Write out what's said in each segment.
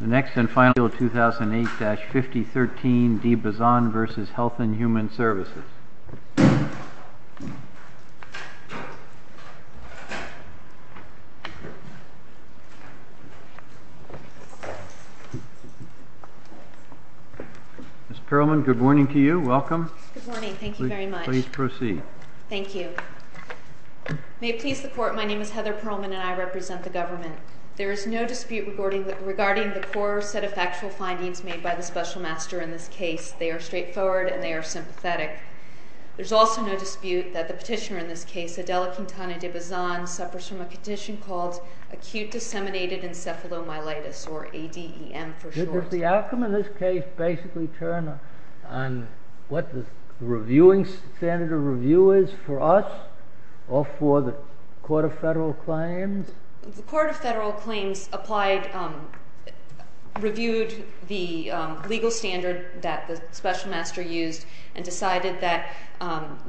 2008-5013 D. Bazan v. Health and Human Services Ms. Perlman, good morning to you. Welcome. Good morning. Thank you very much. Please proceed. Thank you. May it please the Court, my name is Heather Perlman and I represent the government. There is no dispute regarding the core set of factual findings made by the special master in this case. They are straightforward and they are sympathetic. There is also no dispute that the petitioner in this case, Adela Quintana de Bazan, suffers from a condition called acute disseminated encephalomyelitis or ADEM for short. Does the outcome in this case basically turn on what the standard of review is for us or for the Court of Federal Claims? The Court of Federal Claims reviewed the legal standard that the special master used and decided that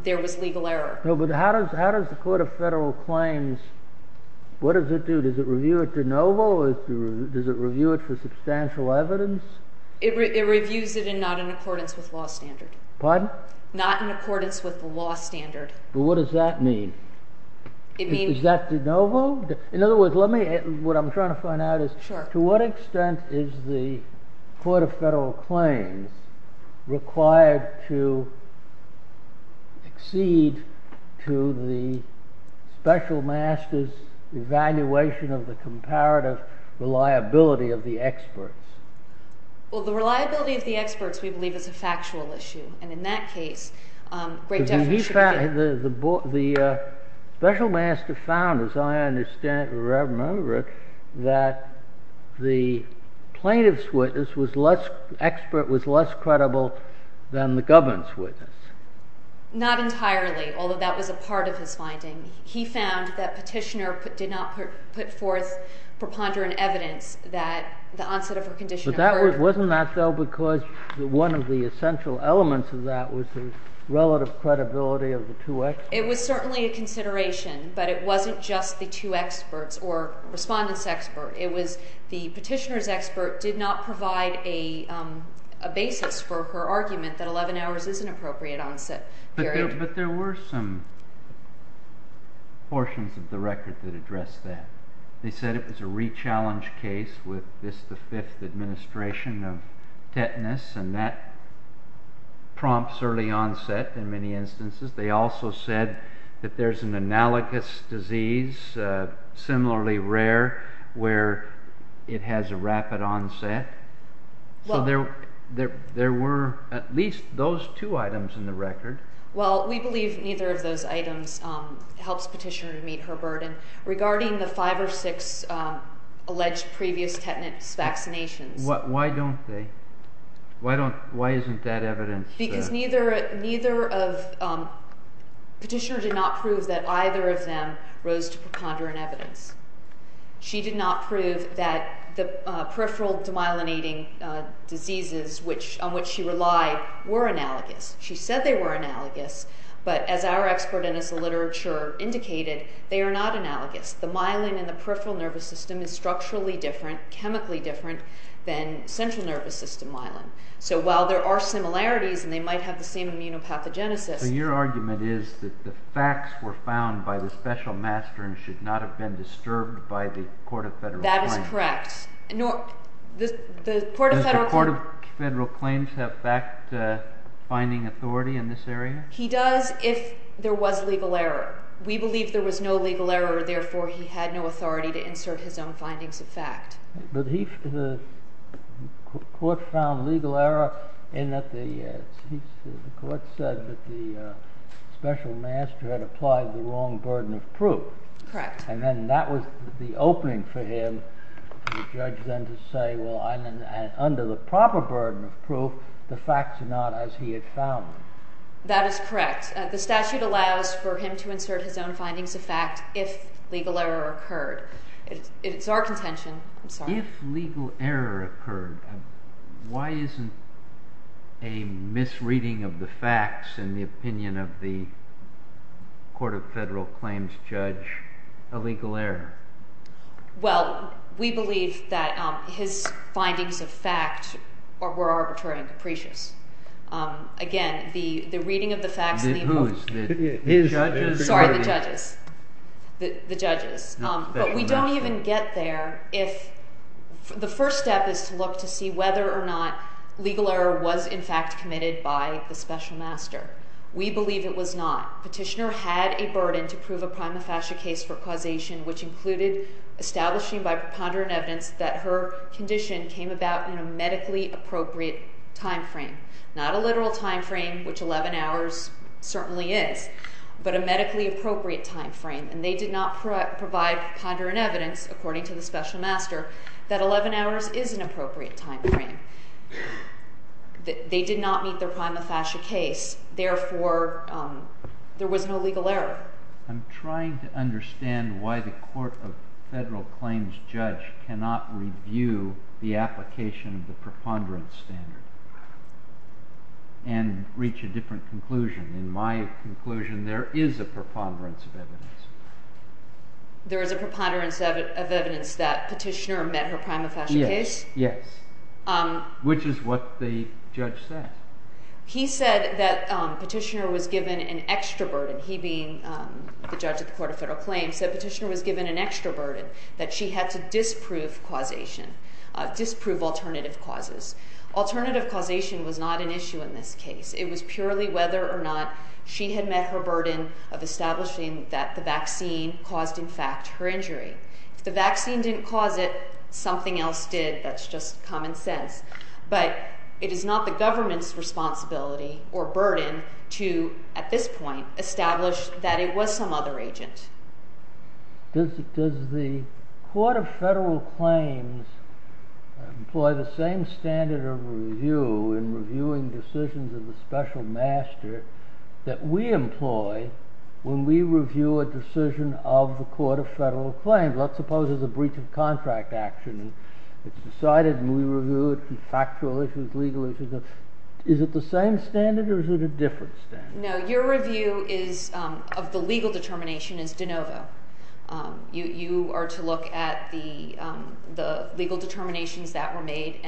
there was legal error. But how does the Court of Federal Claims, what does it do? Does it review it de novo or does it review it for substantial evidence? It reviews it in not in accordance with law standard. Pardon? Not in accordance with the law standard. But what does that mean? Is that de novo? In other words, what I'm trying to find out is to what extent is the Court of Federal Claims required to accede to the special master's evaluation of the comparative reliability of the experts? Well, the reliability of the experts we believe is a factual issue. The special master found, as I remember it, that the plaintiff's witness, the expert, was less credible than the governor's witness. Not entirely, although that was a part of his finding. He found that Petitioner did not put forth preponderant evidence that the onset of her condition occurred. Wasn't that so because one of the essential elements of that was the relative credibility of the two experts? It was certainly a consideration, but it wasn't just the two experts or respondent's expert. It was the Petitioner's expert did not provide a basis for her argument that 11 hours is an appropriate onset period. But there were some portions of the record that addressed that. They said it was a re-challenge case with this, the fifth administration of tetanus, and that prompts early onset in many instances. They also said that there's an analogous disease, similarly rare, where it has a rapid onset. So there were at least those two items in the record. Well, we believe neither of those items helps Petitioner to meet her burden. Regarding the five or six alleged previous tetanus vaccinations. Why don't they? Why isn't that evidence? Because Petitioner did not prove that either of them rose to preponderant evidence. She did not prove that the peripheral demyelinating diseases on which she relied were analogous. She said they were analogous, but as our expert and as the literature indicated, they are not analogous. The myelin in the peripheral nervous system is structurally different, chemically different, than central nervous system myelin. So while there are similarities and they might have the same immunopathogenesis. So your argument is that the facts were found by the special master and should not have been disturbed by the Court of Federal Claims. That is correct. Does the Court of Federal Claims have fact-finding authority in this area? He does if there was legal error. We believe there was no legal error, therefore he had no authority to insert his own findings of fact. But the Court found legal error in that the Court said that the special master had applied the wrong burden of proof. Correct. And then that was the opening for him, for the judge then to say, well, under the proper burden of proof, the facts are not as he had found them. That is correct. The statute allows for him to insert his own findings of fact if legal error occurred. It's our contention. I'm sorry. If legal error occurred, why isn't a misreading of the facts in the opinion of the Court of Federal Claims judge a legal error? Well, we believe that his findings of fact were arbitrary and capricious. Again, the reading of the facts in the opinion of the judges. Sorry, the judges. The judges. But we don't even get there if the first step is to look to see whether or not legal error was in fact committed by the special master. We believe it was not. Petitioner had a burden to prove a prima facie case for causation, which included establishing by preponderant evidence that her condition came about in a medically appropriate time frame. Not a literal time frame, which 11 hours certainly is, but a medically appropriate time frame. And they did not provide ponderant evidence, according to the special master, that 11 hours is an appropriate time frame. They did not meet their prima facie case. Therefore, there was no legal error. I'm trying to understand why the Court of Federal Claims judge cannot review the application of the preponderance standard and reach a different conclusion. In my conclusion, there is a preponderance of evidence. There is a preponderance of evidence that Petitioner met her prima facie case? Yes. Which is what the judge said. He said that Petitioner was given an extra burden. He, being the judge of the Court of Federal Claims, said Petitioner was given an extra burden, that she had to disprove causation, disprove alternative causes. Alternative causation was not an issue in this case. It was purely whether or not she had met her burden of establishing that the vaccine caused, in fact, her injury. If the vaccine didn't cause it, something else did. That's just common sense. But it is not the government's responsibility or burden to, at this point, establish that it was some other agent. Does the Court of Federal Claims employ the same standard of review in reviewing decisions of the special master that we employ when we review a decision of the Court of Federal Claims? Let's suppose it's a breach of contract action. It's decided and we review it for factual issues, legal issues. Is it the same standard or is it a different standard? No, your review of the legal determination is de novo. You are to look at the legal determinations that were made.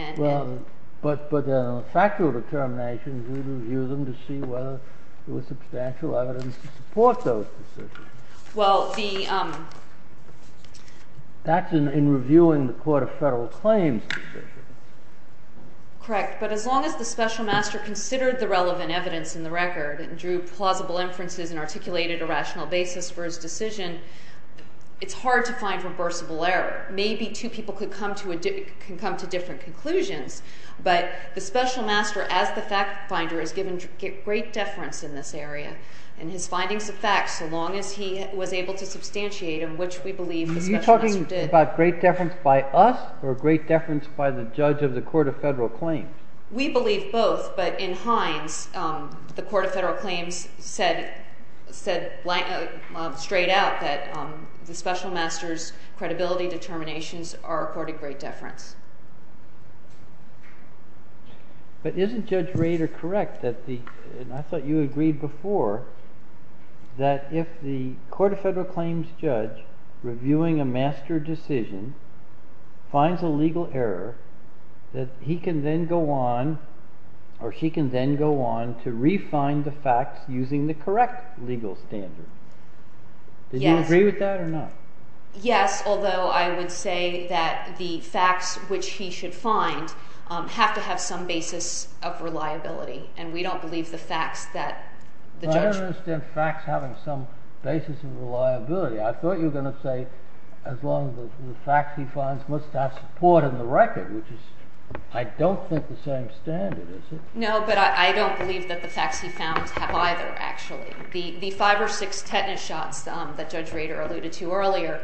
But the factual determinations, we review them to see whether there was substantial evidence to support those decisions. Well, the- That's in reviewing the Court of Federal Claims decision. Correct. But as long as the special master considered the relevant evidence in the record and drew plausible inferences and articulated a rational basis for his decision, it's hard to find reversible error. Maybe two people could come to different conclusions. But the special master, as the fact finder, is given great deference in this area in his findings of facts so long as he was able to substantiate them, which we believe the special master did. Are you talking about great deference by us or great deference by the judge of the Court of Federal Claims? We believe both, but in Hines, the Court of Federal Claims said straight out that the special master's credibility determinations are according to great deference. But isn't Judge Rader correct, and I thought you agreed before, that if the Court of Federal Claims judge, reviewing a master decision, finds a legal error, that he can then go on to refine the facts using the correct legal standard? Yes. Did you agree with that or not? Yes, although I would say that the facts which he should find have to have some basis of reliability, and we don't believe the facts that the judge— I don't understand facts having some basis of reliability. I thought you were going to say as long as the facts he finds must have support in the record, which is, I don't think, the same standard, is it? No, but I don't believe that the facts he found have either, actually. The five or six tetanus shots that Judge Rader alluded to earlier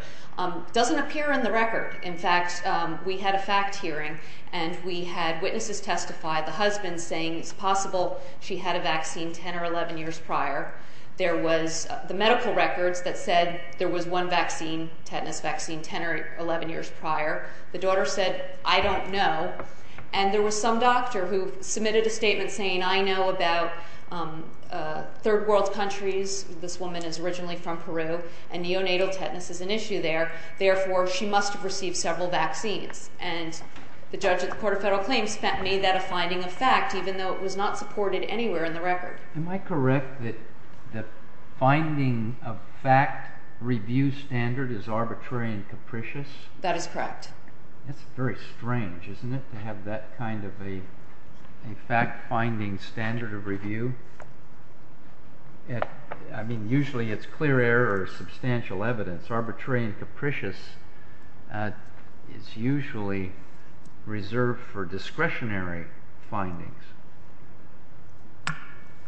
doesn't appear in the record. In fact, we had a fact hearing, and we had witnesses testify, the husband saying it's possible she had a vaccine 10 or 11 years prior. There was the medical records that said there was one vaccine, tetanus vaccine, 10 or 11 years prior. The daughter said, I don't know. And there was some doctor who submitted a statement saying, I know about third world countries. This woman is originally from Peru, and neonatal tetanus is an issue there. Therefore, she must have received several vaccines. And the judge at the Court of Federal Claims made that a finding of fact, even though it was not supported anywhere in the record. Am I correct that the finding of fact review standard is arbitrary and capricious? That is correct. That's very strange, isn't it, to have that kind of a fact-finding standard of review? I mean, usually it's clear error or substantial evidence. Arbitrary and capricious is usually reserved for discretionary findings.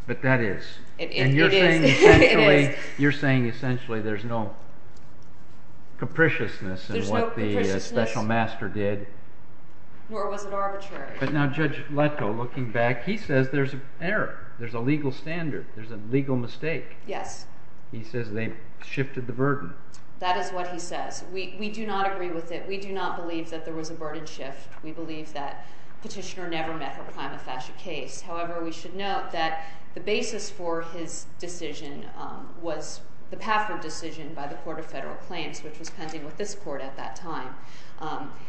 But that is. And you're saying essentially there's no capriciousness in what the special master did? Nor was it arbitrary. But now Judge Letko, looking back, he says there's an error. There's a legal standard. There's a legal mistake. Yes. He says they shifted the burden. That is what he says. We do not agree with it. We do not believe that there was a burden shift. We believe that Petitioner never met her prima facie case. However, we should note that the basis for his decision was the Pafford decision by the Court of Federal Claims, which was pending with this court at that time.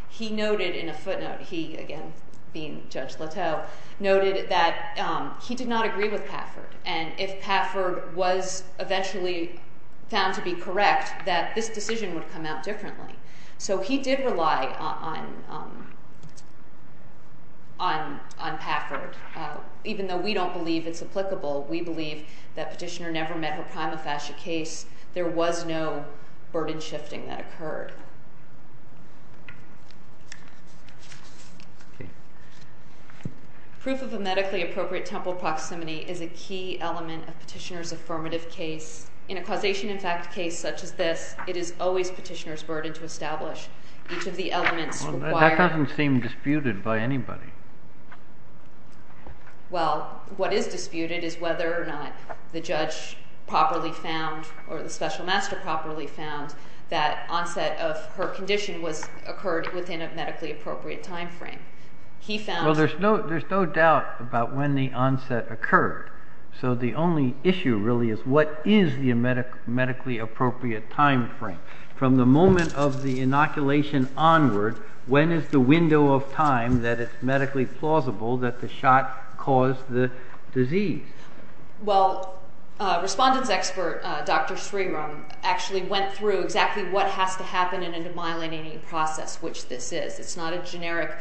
He noted in a footnote, he, again, being Judge Letko, noted that he did not agree with Pafford. And if Pafford was eventually found to be correct, that this decision would come out differently. So he did rely on Pafford. Even though we don't believe it's applicable, we believe that Petitioner never met her prima facie case. There was no burden shifting that occurred. Proof of a medically appropriate temple proximity is a key element of Petitioner's affirmative case. In a causation, in fact, case such as this, it is always Petitioner's burden to establish each of the elements required. That doesn't seem disputed by anybody. Well, what is disputed is whether or not the judge properly found, or the special master properly found, that onset of her condition occurred within a medically appropriate time frame. Well, there's no doubt about when the onset occurred. So the only issue, really, is what is the medically appropriate time frame. From the moment of the inoculation onward, when is the window of time that it's medically plausible that the shot caused the disease? Well, respondents expert, Dr. Sriram, actually went through exactly what has to happen in a demyelinating process, which this is. It's not a generic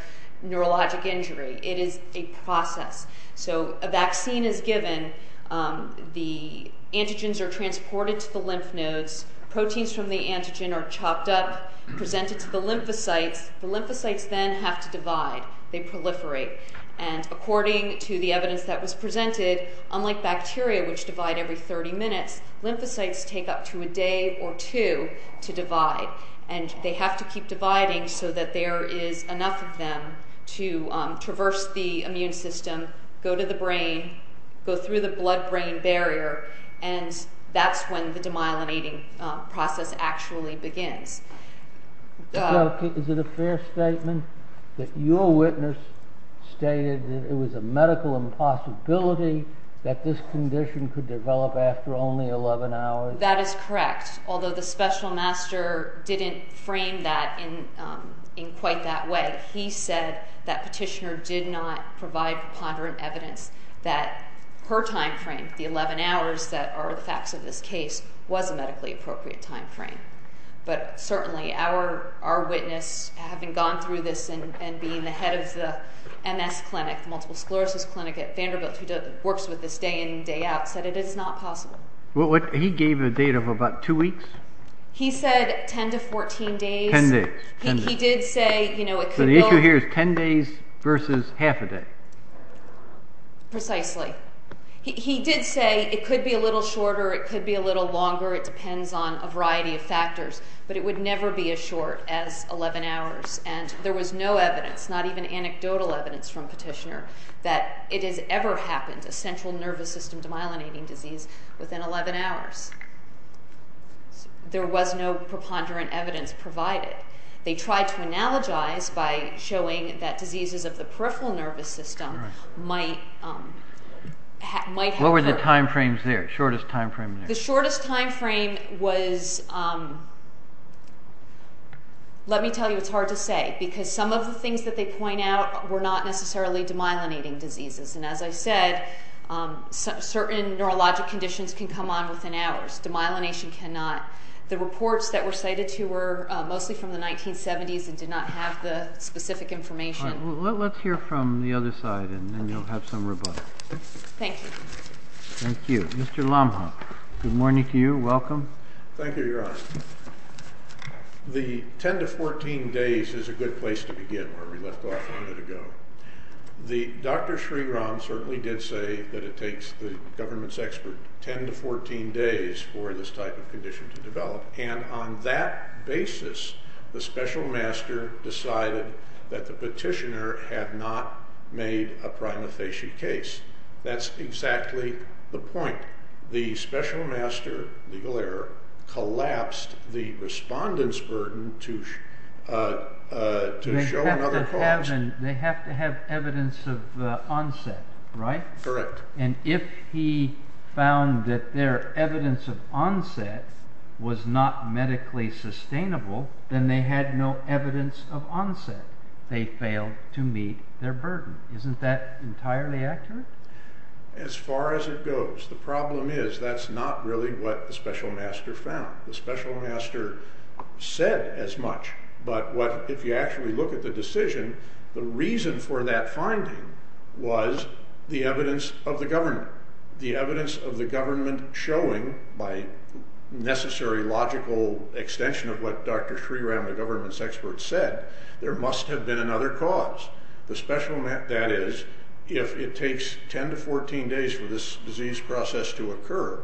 neurologic injury. It is a process. So a vaccine is given. The antigens are transported to the lymph nodes. Proteins from the antigen are chopped up, presented to the lymphocytes. The lymphocytes then have to divide. They proliferate. And according to the evidence that was presented, unlike bacteria, which divide every 30 minutes, lymphocytes take up to a day or two to divide. And they have to keep dividing so that there is enough of them to traverse the immune system, go to the brain, go through the blood-brain barrier, and that's when the demyelinating process actually begins. Is it a fair statement that your witness stated that it was a medical impossibility that this condition could develop after only 11 hours? That is correct, although the special master didn't frame that in quite that way. He said that petitioner did not provide preponderant evidence that her timeframe, the 11 hours that are the facts of this case, was a medically appropriate timeframe. But certainly our witness, having gone through this and being the head of the MS clinic, the multiple sclerosis clinic at Vanderbilt, who works with this day in and day out, said it is not possible. He gave a date of about two weeks? He said 10 to 14 days. Ten days. He did say, you know, it could be longer. So the issue here is 10 days versus half a day. Precisely. He did say it could be a little shorter, it could be a little longer, it depends on a variety of factors, but it would never be as short as 11 hours. And there was no evidence, not even anecdotal evidence from petitioner, that it has ever happened, a central nervous system demyelinating disease, within 11 hours. There was no preponderant evidence provided. They tried to analogize by showing that diseases of the peripheral nervous system might happen. What were the timeframes there, shortest timeframe there? The shortest timeframe was, let me tell you, it's hard to say, because some of the things that they point out were not necessarily demyelinating diseases. And as I said, certain neurologic conditions can come on within hours. Demyelination cannot. The reports that were cited to were mostly from the 1970s and did not have the specific information. Let's hear from the other side, and then you'll have some rebuttal. Thank you. Thank you. Mr. Lomhoff, good morning to you, welcome. Thank you, Your Honor. The 10 to 14 days is a good place to begin, where we left off a minute ago. Dr. Sriram certainly did say that it takes the government's expert 10 to 14 days for this type of condition to develop. And on that basis, the special master decided that the petitioner had not made a prima facie case. That's exactly the point. The special master, legal error, collapsed the respondent's burden to show another cause. They have to have evidence of onset, right? Correct. And if he found that their evidence of onset was not medically sustainable, then they had no evidence of onset. They failed to meet their burden. Isn't that entirely accurate? As far as it goes, the problem is that's not really what the special master found. The special master said as much, but if you actually look at the decision, the reason for that finding was the evidence of the government. The evidence of the government showing, by necessary logical extension of what Dr. Sriram, the government's expert, said, there must have been another cause. That is, if it takes 10 to 14 days for this disease process to occur,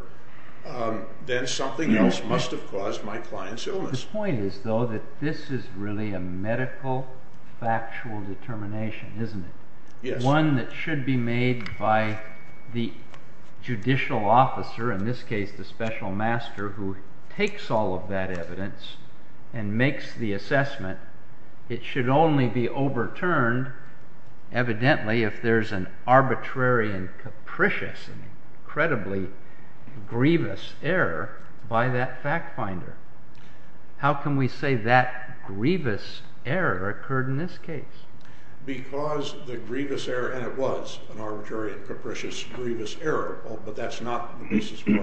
then something else must have caused my client's illness. The point is, though, that this is really a medical, factual determination, isn't it? Yes. One that should be made by the judicial officer, in this case the special master, who takes all of that evidence and makes the assessment. It should only be overturned, evidently, if there's an arbitrary and capricious and credibly grievous error by that fact finder. How can we say that grievous error occurred in this case? Because the grievous error, and it was an arbitrary and capricious grievous error, but that's not the basis for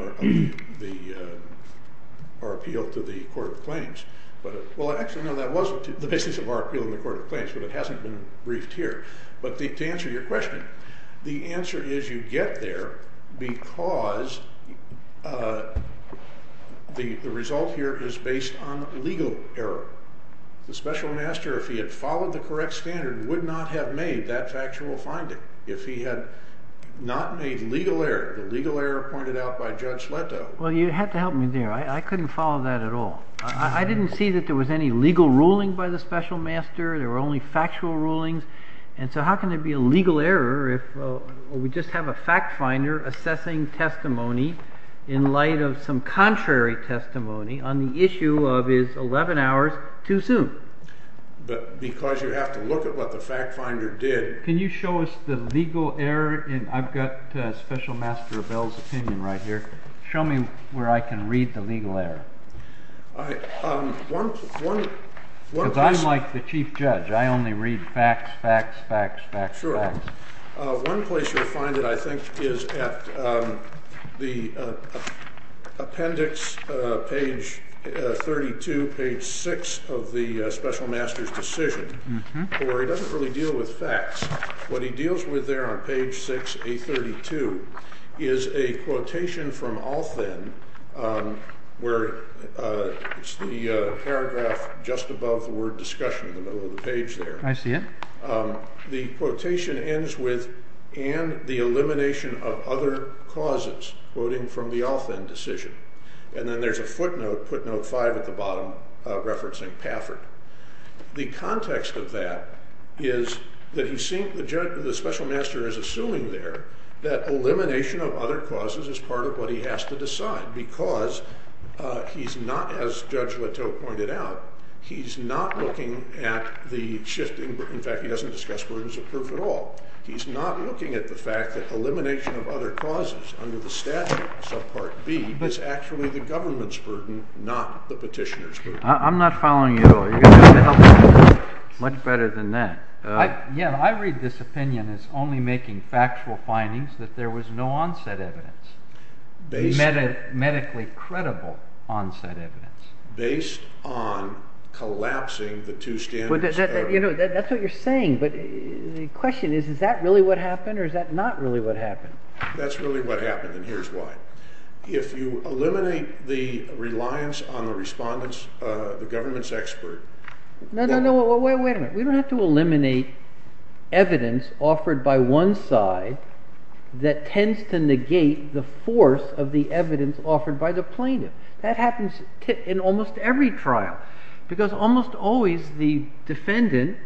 our appeal to the court of claims. Well, actually, no, that was the basis of our appeal in the court of claims, but it hasn't been briefed here. But to answer your question, the answer is you get there because the result here is based on legal error. The special master, if he had followed the correct standard, would not have made that factual finding. If he had not made legal error, the legal error pointed out by Judge Leto. Well, you had to help me there. I couldn't follow that at all. I didn't see that there was any legal ruling by the special master. There were only factual rulings. And so how can there be a legal error if we just have a fact finder assessing testimony in light of some contrary testimony on the issue of his 11 hours too soon? But because you have to look at what the fact finder did. Can you show us the legal error? I've got Special Master Bell's opinion right here. Show me where I can read the legal error. Because I'm like the chief judge. I only read facts, facts, facts, facts, facts. Sure. One place you'll find it, I think, is at the appendix, page 32, page 6 of the special master's decision, where he doesn't really deal with facts. What he deals with there on page 6, page 32, is a quotation from Althen, where it's the paragraph just above the word discussion in the middle of the page there. I see it. The quotation ends with, and the elimination of other causes, quoting from the Althen decision. And then there's a footnote, footnote 5 at the bottom, referencing Paffert. The context of that is that the special master is assuming there that elimination of other causes is part of what he has to decide. Because he's not, as Judge Leteau pointed out, he's not looking at the shifting. In fact, he doesn't discuss burdens of proof at all. He's not looking at the fact that elimination of other causes under the statute, subpart B, is actually the government's burden, not the petitioner's burden. I'm not following you at all. You've got to help me here. Much better than that. Yeah, I read this opinion as only making factual findings that there was no onset evidence. Medically credible onset evidence. Based on collapsing the two standards. That's what you're saying, but the question is, is that really what happened, or is that not really what happened? That's really what happened, and here's why. If you eliminate the reliance on the respondents, the government's expert... No, no, no, wait a minute. We don't have to eliminate evidence offered by one side that tends to negate the force of the evidence offered by the plaintiff. That happens in almost every trial. Because almost always the defendant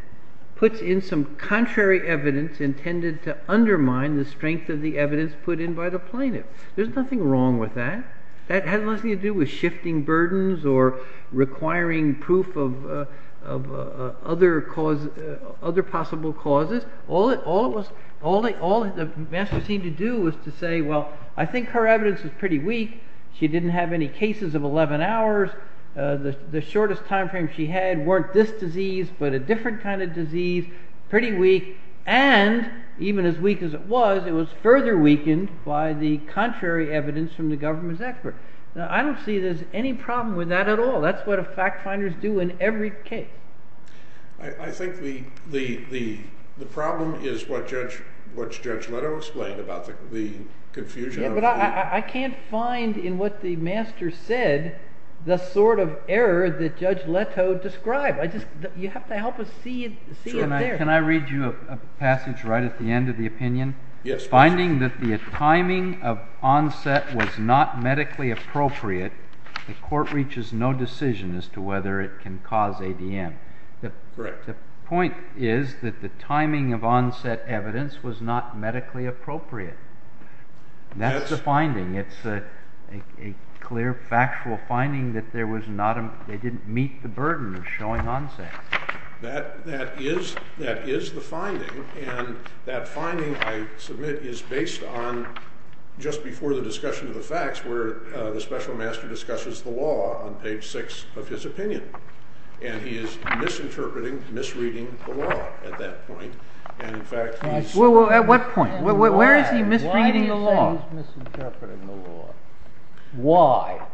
puts in some contrary evidence intended to undermine the strength of the evidence put in by the plaintiff. There's nothing wrong with that. That has nothing to do with shifting burdens or requiring proof of other possible causes. All the master seemed to do was to say, well, I think her evidence is pretty weak. She didn't have any cases of 11 hours. The shortest time frame she had weren't this disease, but a different kind of disease. And even as weak as it was, it was further weakened by the contrary evidence from the government's expert. Now, I don't see there's any problem with that at all. That's what fact finders do in every case. I think the problem is what Judge Leto explained about the confusion. Yeah, but I can't find in what the master said the sort of error that Judge Leto described. You have to help us see it there. Can I read you a passage right at the end of the opinion? Yes, please. Finding that the timing of onset was not medically appropriate, the court reaches no decision as to whether it can cause ADM. The point is that the timing of onset evidence was not medically appropriate. That's the finding. It's a clear factual finding that they didn't meet the burden of showing onset. That is the finding. And that finding, I submit, is based on just before the discussion of the facts where the special master discusses the law on page 6 of his opinion. And he is misinterpreting, misreading the law at that point. At what point? Where is he misreading the law? He's misinterpreting the law. Why?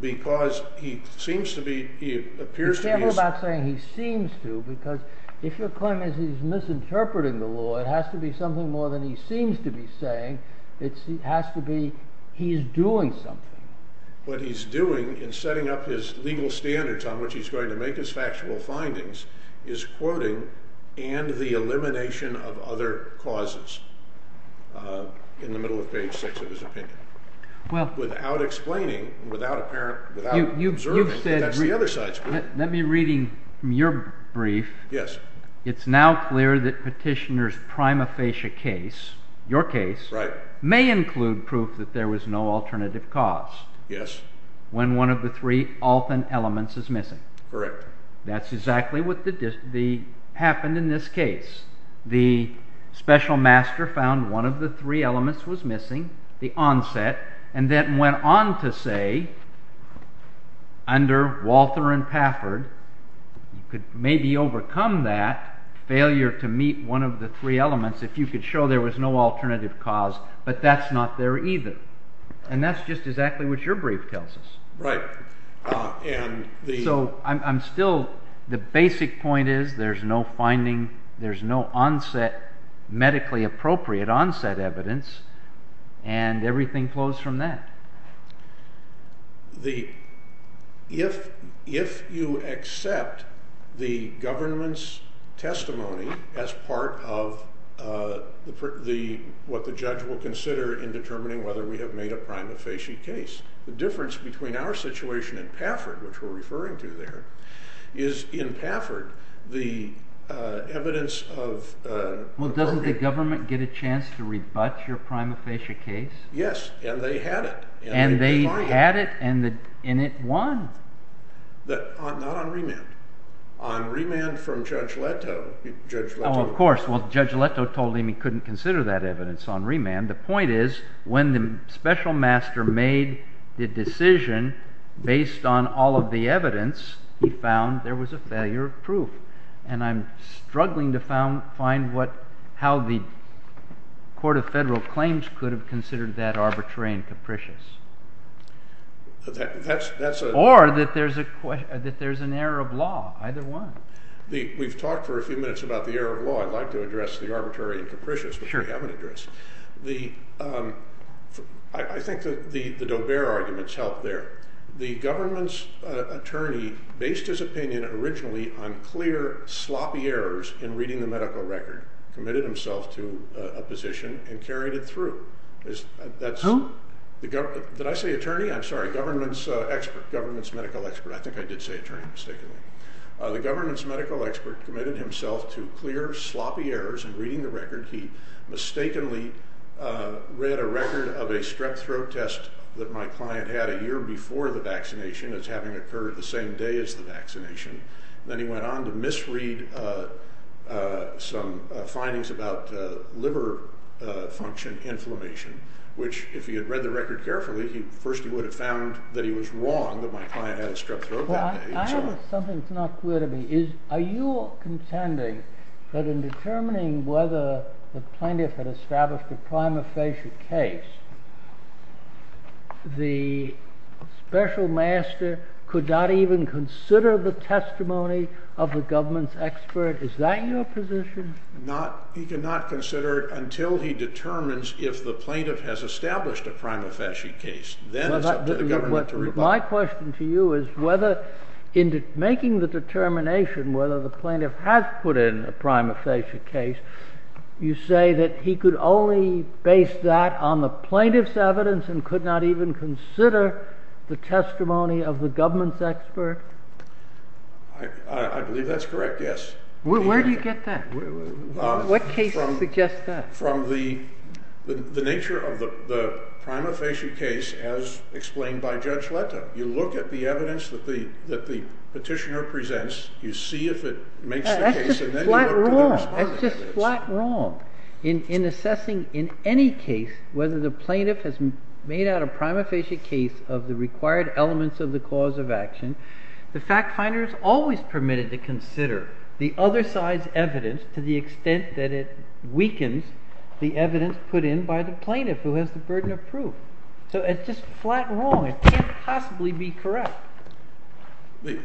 Because he seems to be, he appears to be... You can't go about saying he seems to because if your claim is he's misinterpreting the law, it has to be something more than he seems to be saying. It has to be he's doing something. What he's doing in setting up his legal standards on which he's going to make his factual findings is quoting and the elimination of other causes. In the middle of page 6 of his opinion. Without explaining, without observing, that's the other side's fault. Let me read from your brief. Yes. It's now clear that petitioner's prima facie case, your case, may include proof that there was no alternative cause. Yes. When one of the three often elements is missing. Correct. That's exactly what happened in this case. The special master found one of the three elements was missing, the onset, and then went on to say, under Walter and Pafford, you could maybe overcome that failure to meet one of the three elements if you could show there was no alternative cause, but that's not there either. And that's just exactly what your brief tells us. Right. So I'm still, the basic point is there's no finding, there's no onset, medically appropriate onset evidence, and everything flows from that. If you accept the government's testimony as part of what the judge will consider in determining whether we have made a prima facie case, the difference between our situation in Pafford, which we're referring to there, is in Pafford, the evidence of... Well, doesn't the government get a chance to rebut your prima facie case? Yes, and they had it. And they had it, and it won. Not on remand. On remand from Judge Leto. Oh, of course. Well, Judge Leto told him he couldn't consider that evidence on remand. The point is when the special master made the decision based on all of the evidence, he found there was a failure of proof. And I'm struggling to find how the Court of Federal Claims could have considered that arbitrary and capricious. Or that there's an error of law. Either one. We've talked for a few minutes about the error of law. I'd like to address the arbitrary and capricious, but we haven't addressed it. I think the Daubert arguments help there. The government's attorney, based his opinion originally on clear, sloppy errors in reading the medical record, committed himself to a position and carried it through. Who? Did I say attorney? I'm sorry. Government's expert. Government's medical expert. I think I did say attorney mistakenly. The government's medical expert committed himself to clear, sloppy errors in reading the record. He mistakenly read a record of a strep throat test that my client had a year before the vaccination as having occurred the same day as the vaccination. Then he went on to misread some findings about liver function inflammation, which if he had read the record carefully, first he would have found that he was wrong that my client had a strep throat that day. I have something that's not clear to me. Are you contending that in determining whether the plaintiff had established a prima facie case, the special master could not even consider the testimony of the government's expert? Is that your position? He cannot consider it until he determines if the plaintiff has established a prima facie case. Then it's up to the government to rebut. My question to you is whether in making the determination whether the plaintiff has put in a prima facie case, you say that he could only base that on the plaintiff's evidence and could not even consider the testimony of the government's expert? I believe that's correct, yes. Where do you get that? What cases suggest that? From the nature of the prima facie case as explained by Judge Leto. You look at the evidence that the petitioner presents, you see if it makes the case, and then you look at the respondent's evidence. The evidence put in by the plaintiff who has the burden of proof. So it's just flat wrong. It can't possibly be correct. This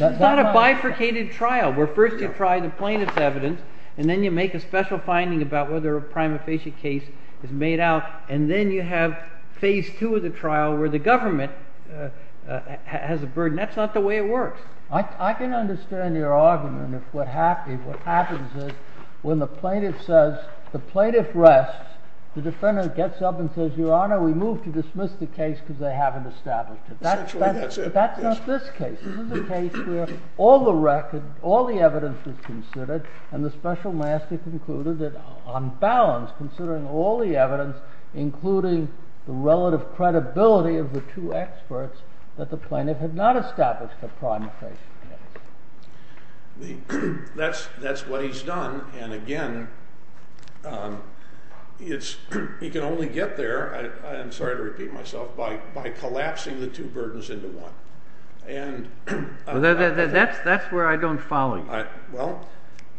is not a bifurcated trial where first you try the plaintiff's evidence, and then you make a special finding about whether a prima facie case is made out, and then you have phase two of the trial where the government has a burden. That's not the way it works. I can understand your argument if what happens is when the plaintiff says, the plaintiff rests, the defendant gets up and says, your honor, we move to dismiss the case because they haven't established it. That's not this case. This is a case where all the record, all the evidence is considered, and the special master concluded that on balance, considering all the evidence, including the relative credibility of the two experts, that the plaintiff had not established a prima facie case. That's what he's done. And again, he can only get there, I'm sorry to repeat myself, by collapsing the two burdens into one. That's where I don't follow you.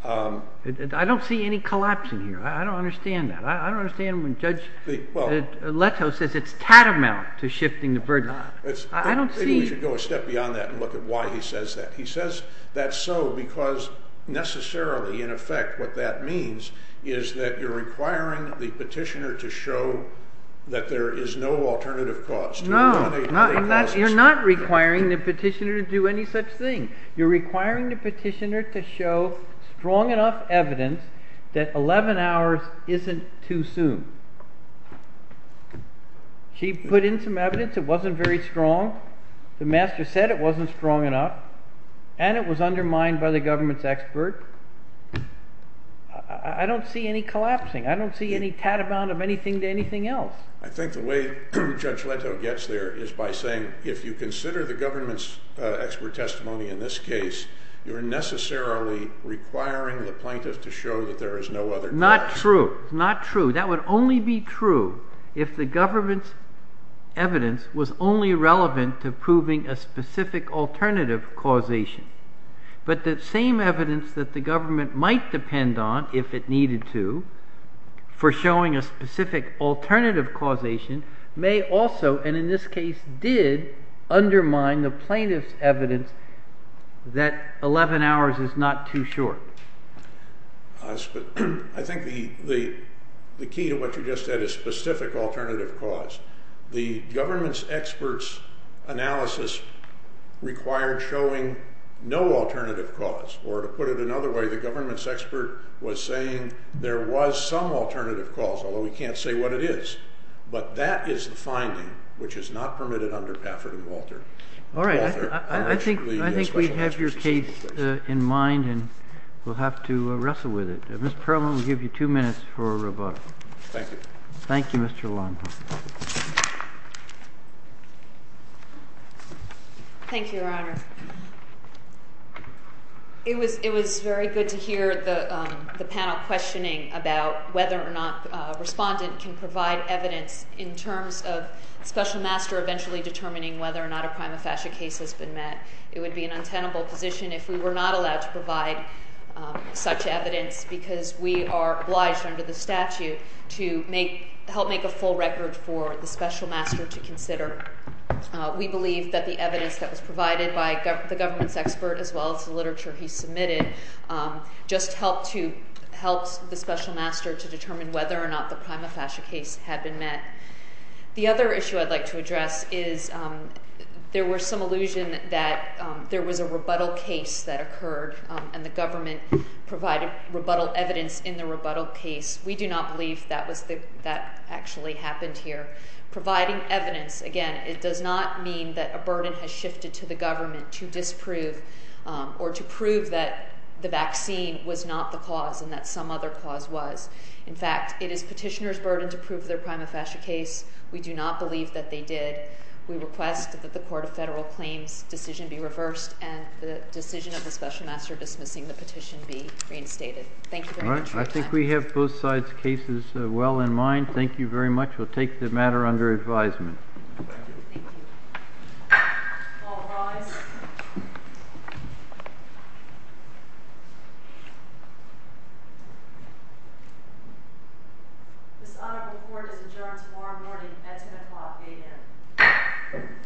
I don't see any collapsing here. I don't understand that. I don't understand when Judge Leto says it's tatamount to shifting the burden. Maybe we should go a step beyond that and look at why he says that. He says that so because necessarily, in effect, what that means is that you're requiring the petitioner to show that there is no alternative cause. No, you're not requiring the petitioner to do any such thing. You're requiring the petitioner to show strong enough evidence that 11 hours isn't too soon. He put in some evidence. It wasn't very strong. The master said it wasn't strong enough. And it was undermined by the government's expert. I don't see any collapsing. I don't see any tatamount of anything to anything else. I think the way Judge Leto gets there is by saying, if you consider the government's expert testimony in this case, you're necessarily requiring the plaintiff to show that there is no other cause. Not true. Not true. That would only be true if the government's evidence was only relevant to proving a specific alternative causation. But the same evidence that the government might depend on, if it needed to, for showing a specific alternative causation may also, and in this case did, undermine the plaintiff's evidence that 11 hours is not too short. I think the key to what you just said is specific alternative cause. The government's expert's analysis required showing no alternative cause. Or to put it another way, the government's expert was saying there was some alternative cause, although we can't say what it is. But that is the finding, which is not permitted under Pafford and Walter. All right. I think we have your case in mind, and we'll have to wrestle with it. Mr. Perlman, we'll give you two minutes for rebuttal. Thank you. Thank you, Mr. Longhorn. Thank you, Your Honor. It was very good to hear the panel questioning about whether or not a respondent can provide evidence in terms of Special Master eventually determining whether or not a prima facie case has been met. It would be an untenable position if we were not allowed to provide such evidence because we are obliged under the statute to help make a full record for the Special Master to consider. We believe that the evidence that was provided by the government's expert, as well as the literature he submitted, just helped the Special Master to determine whether or not the prima facie case had been met. The other issue I'd like to address is there was some illusion that there was a rebuttal case that occurred, and the government provided rebuttal evidence in the rebuttal case. We do not believe that actually happened here. Providing evidence, again, it does not mean that a burden has shifted to the government to disprove or to prove that the vaccine was not the cause and that some other cause was. In fact, it is petitioner's burden to prove their prima facie case. We do not believe that they did. We request that the Court of Federal Claims decision be reversed and the decision of the Special Master dismissing the petition be reinstated. Thank you very much for your time. We have both sides' cases well in mind. Thank you very much. We'll take the matter under advisement. Thank you. All rise. This audit report is adjourned tomorrow morning at 10 o'clock a.m. Thank you.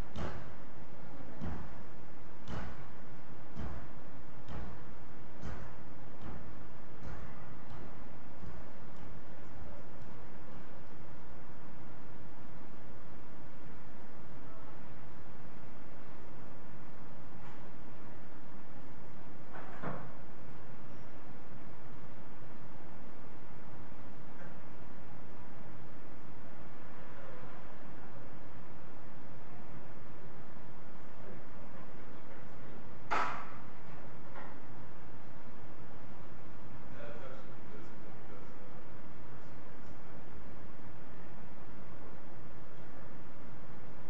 Thank you. Thank you. Thank you. Thank you. Thank you. Thank you. Thank you. Thank you. Thank you. Thank you. Thank you. Thank you. Thank you. Thank you.